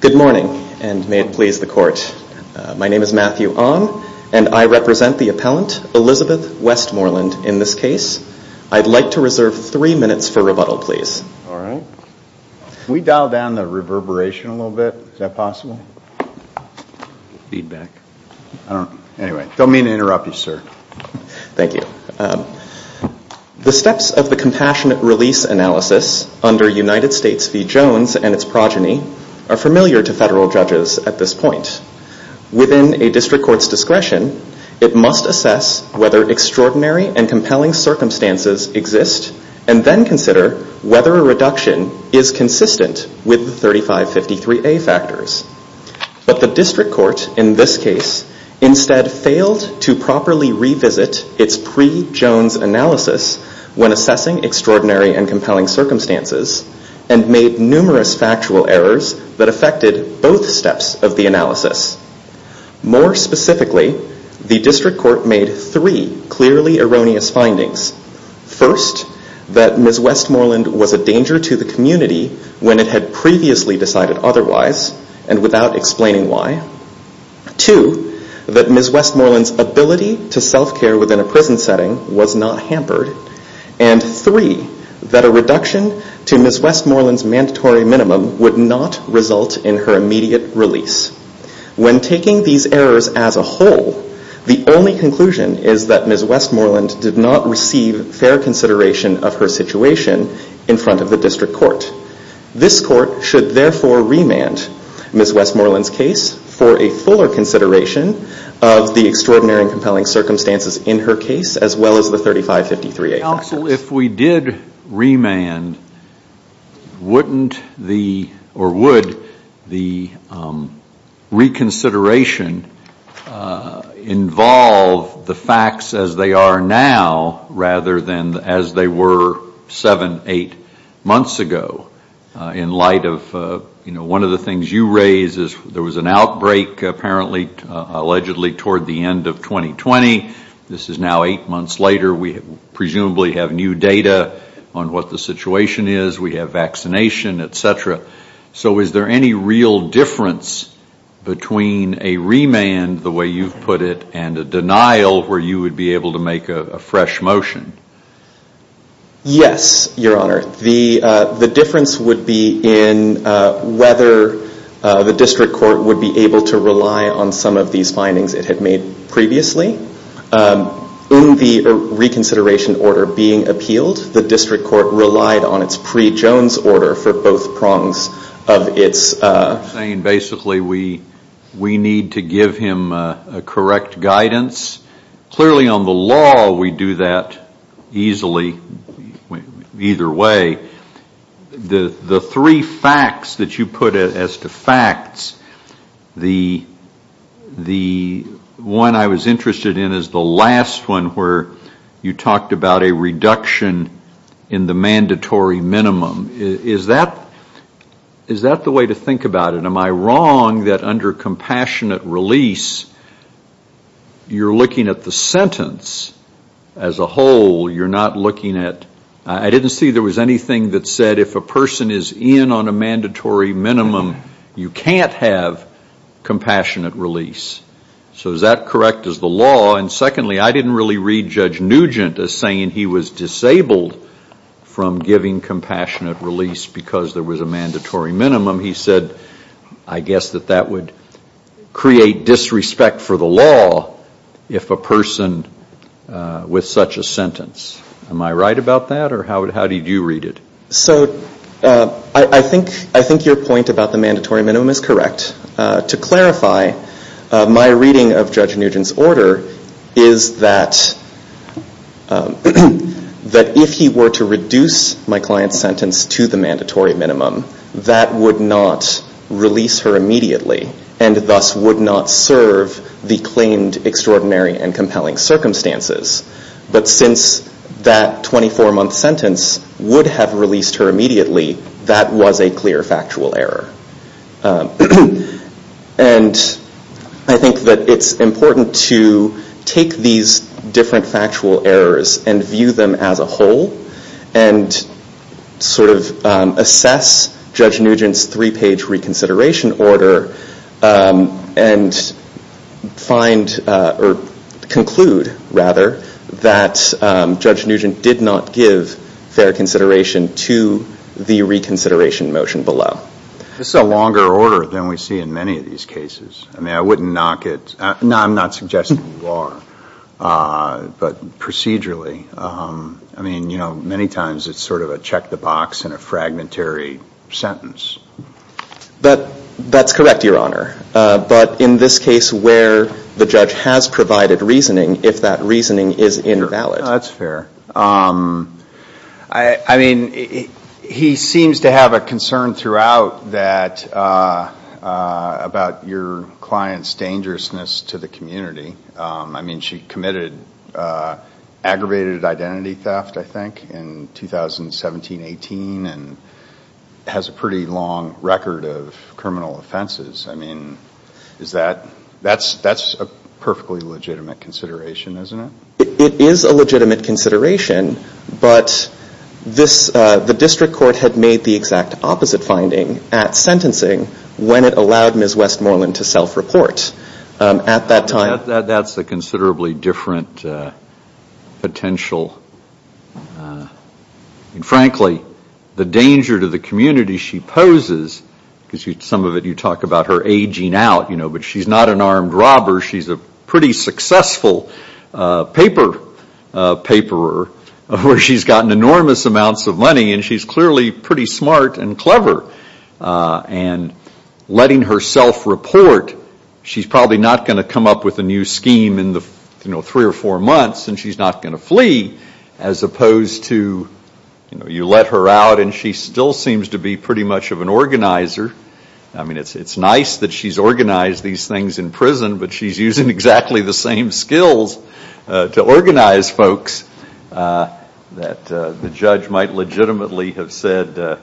Good morning and may it please the court. My name is Matthew Ong and I represent the Department of Justice. The steps of the Compassionate Release Analysis under United States v. Jones and its progeny are familiar to federal judges at this point. Within a district court's discretion, it must assess whether extraordinary and compelling circumstances exist and then consider whether a reduction is consistent with the 3553A factors. But the district court in this case instead failed to properly revisit its pre-Jones analysis when assessing extraordinary and compelling circumstances and made numerous factual errors that affected both steps of the analysis. More specifically, the district court made three clearly erroneous findings. First, that Ms. Westmoreland was a danger to the community when it had previously decided otherwise and without explaining why. Two, that Ms. Westmoreland's ability to self-care within a prison setting was not hampered. And three, that a reduction to Ms. Westmoreland's mandatory minimum would not result in her immediate release. When taking these errors as a whole, the only conclusion is that Ms. Westmoreland did not receive fair consideration of her situation in front of the district court. This court should therefore remand Ms. Westmoreland's case for a fuller consideration of the extraordinary and compelling circumstances in her case as well as the 3553A factors. Counsel, if we did remand, wouldn't the, or would the reconsideration involve the facts as they are now rather than as they were seven, eight months ago? In light of, you know, one of the things you raise is there was an outbreak apparently, allegedly, toward the end of 2020. This is now eight months later. We presumably have new data on what the situation is. We have vaccination, et cetera. So is there any real difference between a remand, the way you've put it, and a denial where you would be able to make a fresh motion? Yes, Your Honor. The difference would be in whether the district court would be able to rely on some of these findings it had made previously. In the reconsideration order being appealed, the district court relied on its pre-Jones order for both prongs of its... I'm saying basically we need to give him correct guidance. Clearly on the law we do that easily either way. The three facts that you put as to facts, the one I was interested in is the last one where you talked about a reduction in the mandatory minimum. Is that the way to think about it? Am I wrong that under compassionate release you're looking at the sentence as a whole? You're not looking at... I didn't see there was anything that said if a person is in on a mandatory minimum, you can't have compassionate release. So is that correct as the law? And secondly, I didn't really read Judge Nugent as saying he was disabled from giving compassionate release because there was a mandatory minimum. He said, I guess that that would create disrespect for the law if a person with such a sentence. Am I right about that or how did you read it? So I think your point about the mandatory minimum is correct. To clarify, my reading of Judge Nugent's order is that if he were to reduce my client's sentence to the mandatory minimum, that would not release her immediately and thus would not serve the claimed extraordinary and compelling circumstances. But since that 24-month sentence would have released her immediately, that was a clear factual error. And I think that it's important to take these different factual errors and view them as a whole and sort of assess Judge Nugent's three-page reconsideration order and find or conclude rather that Judge Nugent did not give fair consideration to the reconsideration motion below. It's a longer order than we see in many of these cases. I mean, I wouldn't knock it. No, I'm not suggesting you are, but procedurally, I mean, you know, many times it's sort of a check the box and a fragmentary sentence. But that's correct, Your Honor. But in this case where the judge has provided reasoning, if that reasoning is invalid. That's fair. I mean, he seems to have a concern throughout that about your client's dangerousness to the community. I mean, she committed aggravated identity theft, I think, in 2017-18 and has a pretty long record of criminal offenses. I mean, that's a perfectly legitimate consideration, isn't it? It is a legitimate consideration, but the district court had made the exact opposite finding at sentencing when it allowed Ms. Westmoreland to self-report. That's a considerably different potential. Frankly, the danger to the community she poses, because some of it you talk about her aging out, but she's not an armed robber. She's a pretty successful paper paperer where she's gotten enormous amounts of money and she's clearly pretty smart and clever. And letting herself report, she's probably not going to come up with a new scheme in the three or four months and she's not going to flee. As opposed to, you know, you let her out and she still seems to be pretty much of an organizer. I mean, it's nice that she's organized these things in prison, but she's using exactly the same skills to organize folks that the judge might legitimately have said that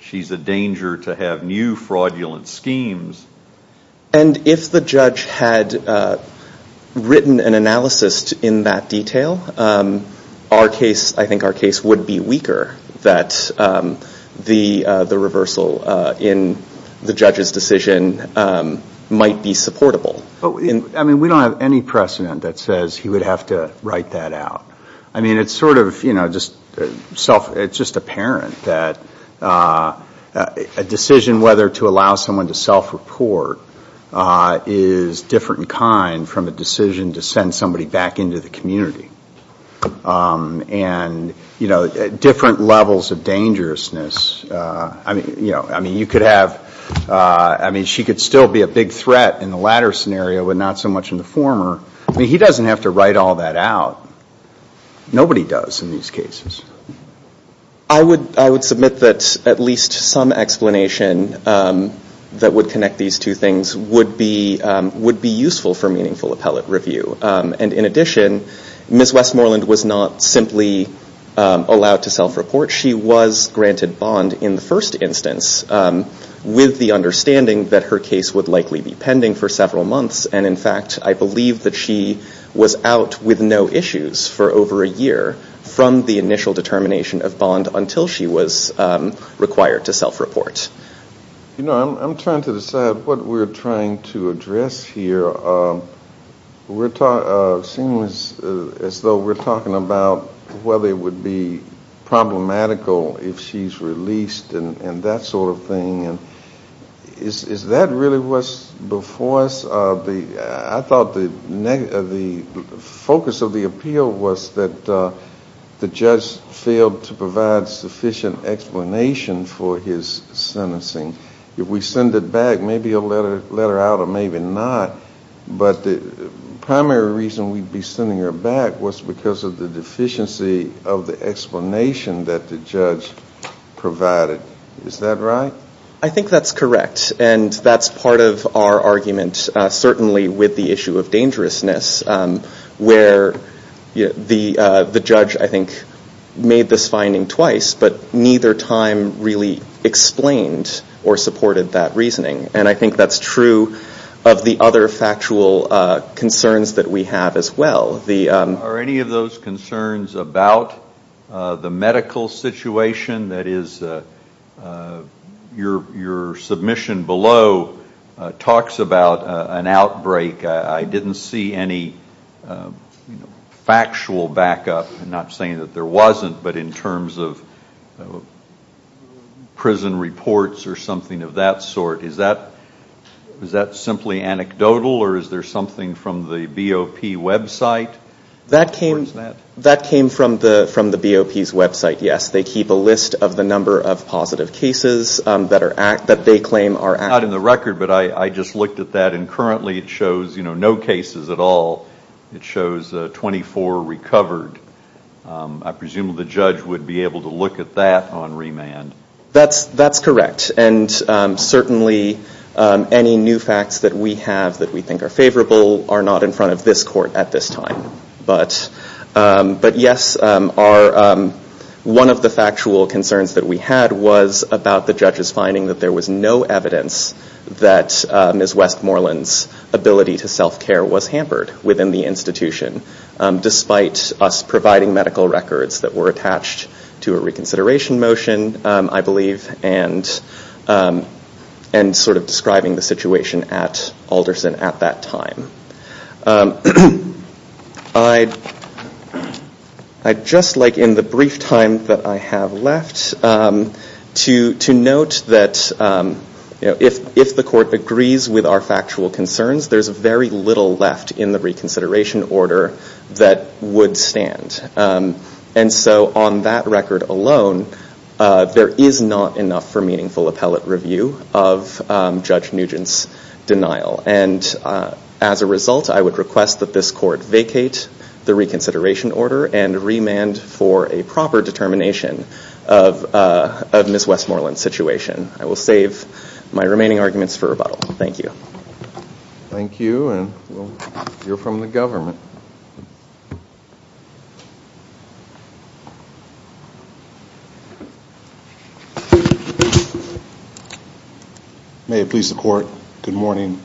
she's a danger to have new fraudulent schemes. And if the judge had written an analysis in that detail, I think our case would be weaker that the reversal in the judge's decision might be supportable. I mean, we don't have any precedent that says he would have to write that out. I mean, it's sort of, you know, it's just apparent that a decision whether to allow someone to self-report is different in kind from a decision to send somebody back into the community. And, you know, different levels of dangerousness. I mean, you could have, I mean, she could still be a big threat in the latter scenario, but not so much in the former. I mean, he doesn't have to write all that out. Nobody does in these cases. I would submit that at least some explanation that would connect these two things would be useful for meaningful appellate review. And in addition, Ms. Westmoreland was not simply allowed to self-report. She was granted bond in the first instance with the understanding that her case would likely be pending for several months. And in fact, I believe that she was out with no issues for over a year from the initial determination of bond until she was required to self-report. You know, I'm trying to decide what we're trying to address here. We're talking, it seems as though we're talking about whether it would be problematical if she's released and that sort of thing. Is that really what's before us? I thought the focus of the appeal was that the judge failed to provide sufficient explanation for his sentencing. If we send it back, maybe he'll let her out or maybe not. But the primary reason we'd be sending her back was because of the deficiency of the explanation that the judge provided. Is that right? I think that's correct. And that's part of our argument, certainly with the issue of dangerousness, where the judge, I think, made this finding twice, but neither time really explained or supported that reasoning. And I think that's true of the other factual concerns that we have as well. Are any of those concerns about the medical situation? That is, your submission below talks about an outbreak. I didn't see any factual backup, not saying that there wasn't, but in terms of prison reports or something of that sort. Is that simply anecdotal or is there something from the BOP website? That came from the BOP's website, yes. They keep a list of the number of positive cases that they claim are active. Not in the record, but I just looked at that and currently it shows no cases at all. It shows 24 recovered. I presume the judge would be able to look at that on remand. That's correct. And certainly any new facts that we have that we think are favorable are not in front of this court at this time. But yes, one of the factual concerns that we had was about the judge's finding that there was no evidence that Ms. Westmoreland's ability to self-care was hampered within the institution, despite us providing medical records that were attached to a reconsideration motion, I believe. And sort of describing the situation at Alderson at that time. Just like in the brief time that I have left, to note that if the court agrees with our factual concerns, there's very little left in the reconsideration order that would stand. And so on that record alone, there is not enough for meaningful appellate review of Judge Nugent's denial. And as a result, I would request that this court vacate the reconsideration order and remand for a proper determination of Ms. Westmoreland's situation. I will save my remaining arguments for rebuttal. Thank you. Thank you, and you're from the government. May it please the court, good morning.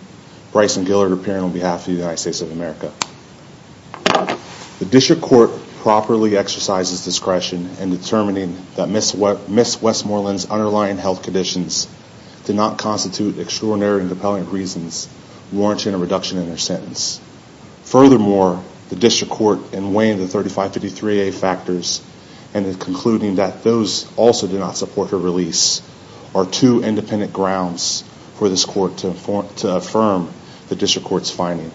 Bryson Gillard, appearing on behalf of the United States of America. The district court properly exercises discretion in determining that Ms. Westmoreland's underlying health conditions did not constitute extraordinary and compelling reasons warranting a reduction in her sentence. Furthermore, the district court, in weighing the $35.55, and in concluding that those also did not support her release, are two independent grounds for this court to affirm the district court's finding.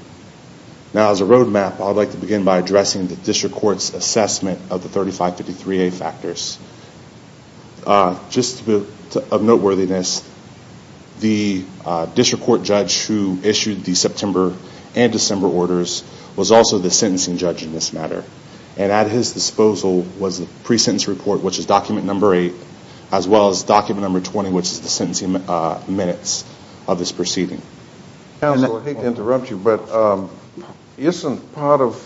Now as a road map, I would like to begin by addressing the district court's assessment of the $35.55 factors. Just a bit of noteworthiness, the district court judge who issued the September and December orders was also the sentencing judge in this matter. And at his disposal was the pre-sentence report, which is document number 8, as well as document number 20, which is the sentencing minutes of this proceeding. Counsel, I hate to interrupt you, but isn't part of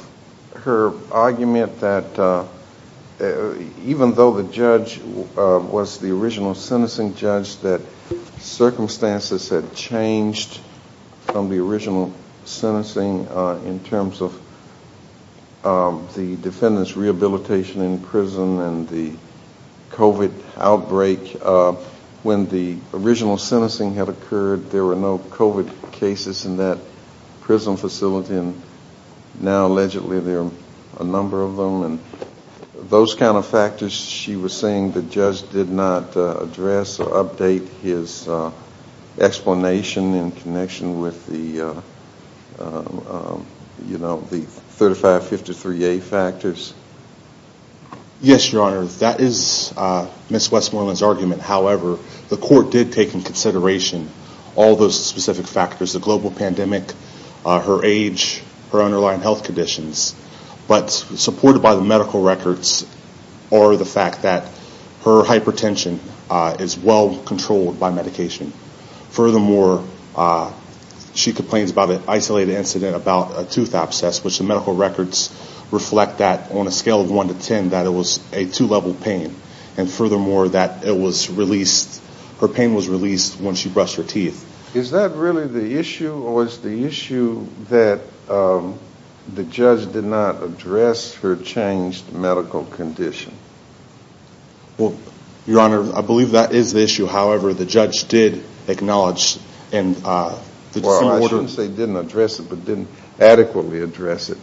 her argument that even though the judge was the original sentencing judge, that circumstances had changed from the original sentencing in terms of the defendant's rehabilitation in prison and the COVID outbreak? When the original sentencing had occurred, there were no COVID cases in that prison facility, and now allegedly there are a number of them. And those kind of factors she was saying the judge did not address or update his explanation in connection with the 3553A factors? Yes, Your Honor, that is Ms. Westmoreland's argument. However, the court did take into consideration all those specific factors, the global pandemic, her age, her underlying health conditions. But supported by the medical records are the fact that her hypertension is well controlled by medication. Furthermore, she complains about an isolated incident about a tooth abscess, which the medical records reflect that on a scale of 1 to 10, that it was a two-level pain. And furthermore, that it was released, her pain was released when she brushed her teeth. Is that really the issue, or is the issue that the judge did not address her changed medical condition? Well, Your Honor, I believe that is the issue. However, the judge did acknowledge… Well, I shouldn't say didn't address it, but didn't adequately address it.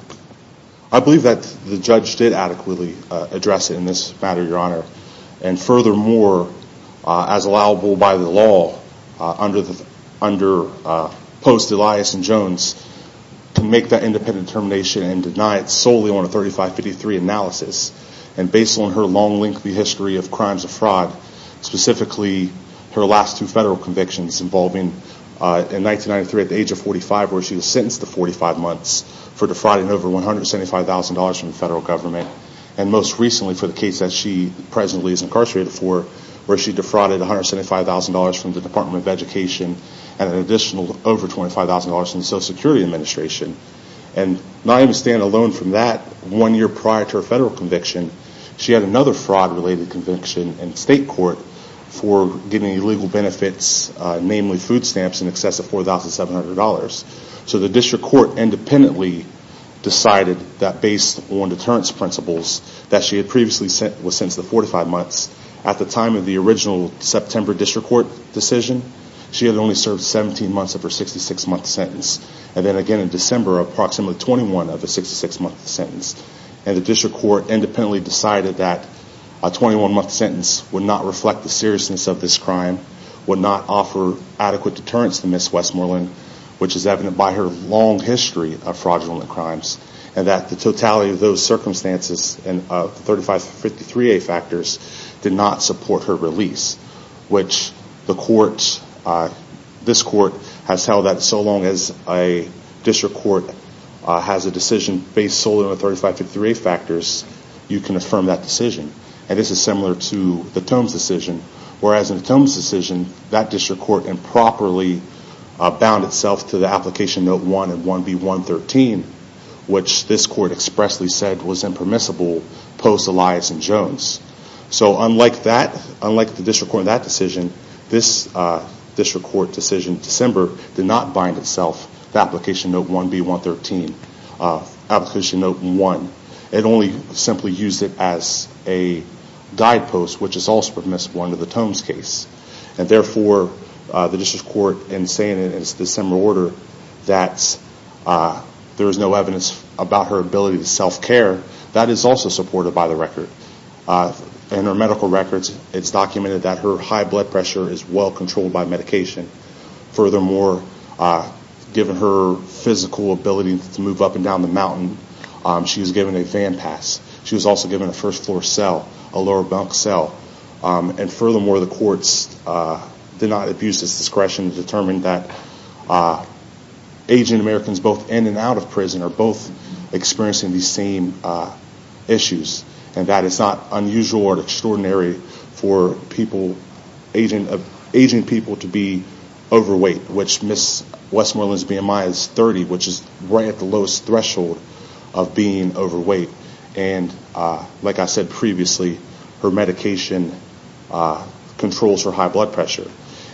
I believe that the judge did adequately address it in this matter, Your Honor. And furthermore, as allowable by the law, under post-Elias and Jones, to make that independent determination and deny it solely on a 3553 analysis. And based on her long, lengthy history of crimes of fraud, specifically her last two federal convictions involving in 1993 at the age of 45, where she was sentenced to 45 months for defrauding over $175,000 from the federal government. And most recently for the case that she presently is incarcerated for, where she defrauded $175,000 from the Department of Education and an additional over $25,000 from the Social Security Administration. And not even staying alone from that, one year prior to her federal conviction, she had another fraud-related conviction in state court for giving illegal benefits, namely food stamps in excess of $4,700. So the district court independently decided that based on deterrence principles that she had previously was sentenced to 45 months, at the time of the original September district court decision, she had only served 17 months of her 66-month sentence. And then again in December, approximately 21 of her 66-month sentence. And the district court independently decided that a 21-month sentence would not reflect the seriousness of this crime, would not offer adequate deterrence to Ms. Westmoreland, which is evident by her long history of fraudulent crimes, and that the totality of those circumstances and 3553A factors did not support her release, which this court has held that so long as a district court has a decision based solely on the 3553A factors, you can affirm that decision. And this is similar to the Tomes decision. Whereas in the Tomes decision, that district court improperly bound itself to the Application Note 1 and 1B113, which this court expressly said was impermissible post-Elias and Jones. So unlike the district court in that decision, this district court decision in December did not bind itself to Application Note 1B113, Application Note 1. It only simply used it as a guidepost, which is also permissible under the Tomes case. And therefore, the district court in saying in December order that there is no evidence about her ability to self-care, that is also supported by the record. In her medical records, it's documented that her high blood pressure is well controlled by medication. Furthermore, given her physical ability to move up and down the mountain, she was given a fan pass. She was also given a first-floor cell, a lower bunk cell. And furthermore, the courts did not abuse this discretion to determine that aging Americans both in and out of prison are both experiencing these same issues. And that it's not unusual or extraordinary for aging people to be overweight, which Westmoreland's BMI is 30, which is right at the lowest threshold of being overweight. And like I said previously, her medication controls her high blood pressure.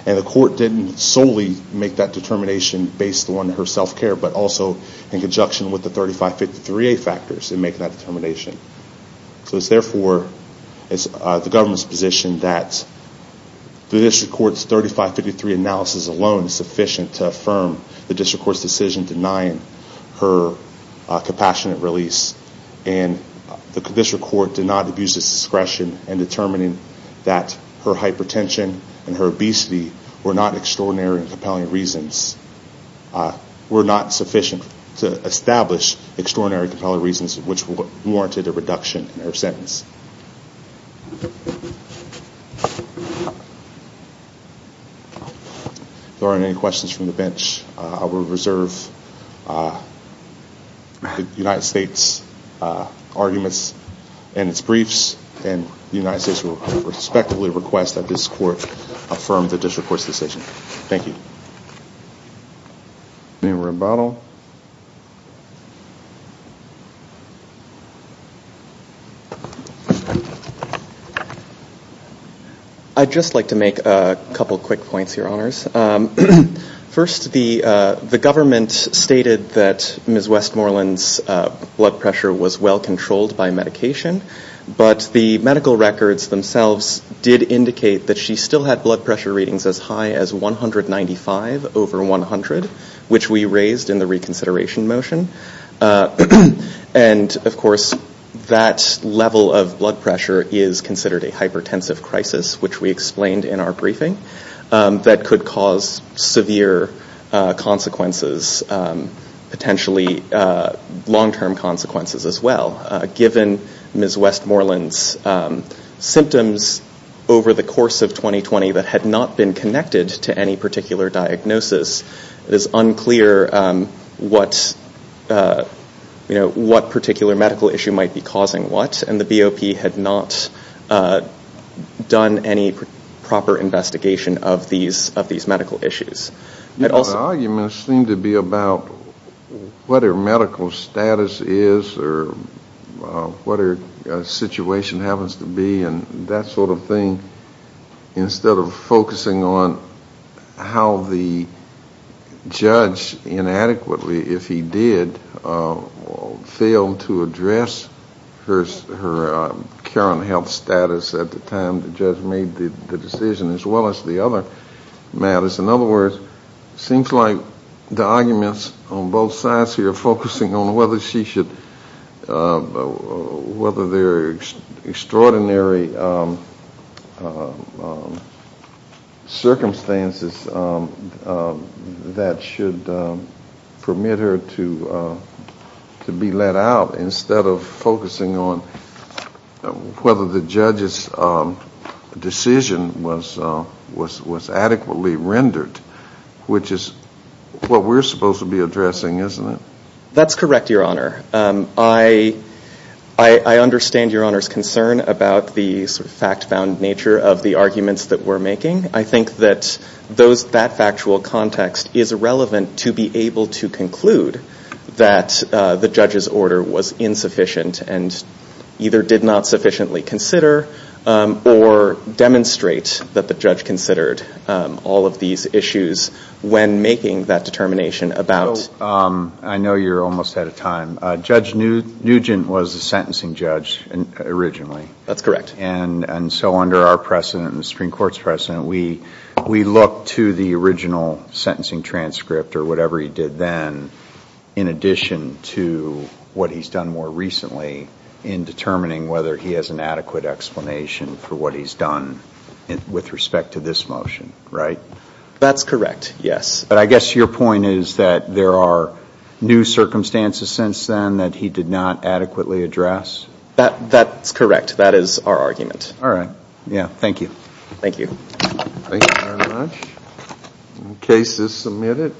And the court didn't solely make that determination based on her self-care, but also in conjunction with the 3553A factors in making that determination. So it's therefore the government's position that the district court's 3553 analysis alone is sufficient to affirm the district court's decision denying her compassionate release. And the district court did not abuse this discretion in determining that her hypertension and her obesity were not extraordinary and compelling reasons. Were not sufficient to establish extraordinary and compelling reasons which warranted a reduction in her sentence. If there aren't any questions from the bench, I will reserve the United States' arguments and its briefs. And the United States will respectfully request that this court affirm the district court's decision. Thank you. Any rebuttal? I'd just like to make a couple quick points, Your Honors. First, the government stated that Ms. Westmoreland's blood pressure was well-controlled by medication, but the medical records themselves did indicate that she still had blood pressure readings as high as 195 over 100, which we raised in the reconsideration motion. And, of course, that level of blood pressure is considered a hypertensive crisis, which we explained in our briefing, that could cause severe consequences, potentially long-term consequences as well. Given Ms. Westmoreland's symptoms over the course of 2020 that had not been connected to any particular diagnosis, it is unclear what particular medical issue might be causing what, and the BOP had not done any proper investigation of these medical issues. The arguments seem to be about what her medical status is or what her situation happens to be, and that sort of thing, instead of focusing on how the judge, inadequately, if he did, failed to address her current health status at the time the judge made the decision, as well as the other matters. In other words, it seems like the arguments on both sides here are focusing on whether she should, whether there are extraordinary circumstances that should permit her to be let out, instead of focusing on whether the judge's decision was adequately rendered, which is what we're supposed to be addressing, isn't it? That's correct, Your Honor. I understand Your Honor's concern about the fact-found nature of the arguments that we're making. I think that that factual context is relevant to be able to conclude that the judge's order was insufficient and either did not sufficiently consider or demonstrate that the judge considered all of these issues when making that determination about- I know you're almost out of time. Judge Nugent was a sentencing judge originally. That's correct. And so under our precedent and the Supreme Court's precedent, we look to the original sentencing transcript or whatever he did then, in addition to what he's done more recently in determining whether he has an adequate explanation for what he's done with respect to this motion, right? That's correct, yes. But I guess your point is that there are new circumstances since then that he did not adequately address? That's correct. That is our argument. All right. Yeah, thank you. Thank you. Thank you very much. The case is submitted.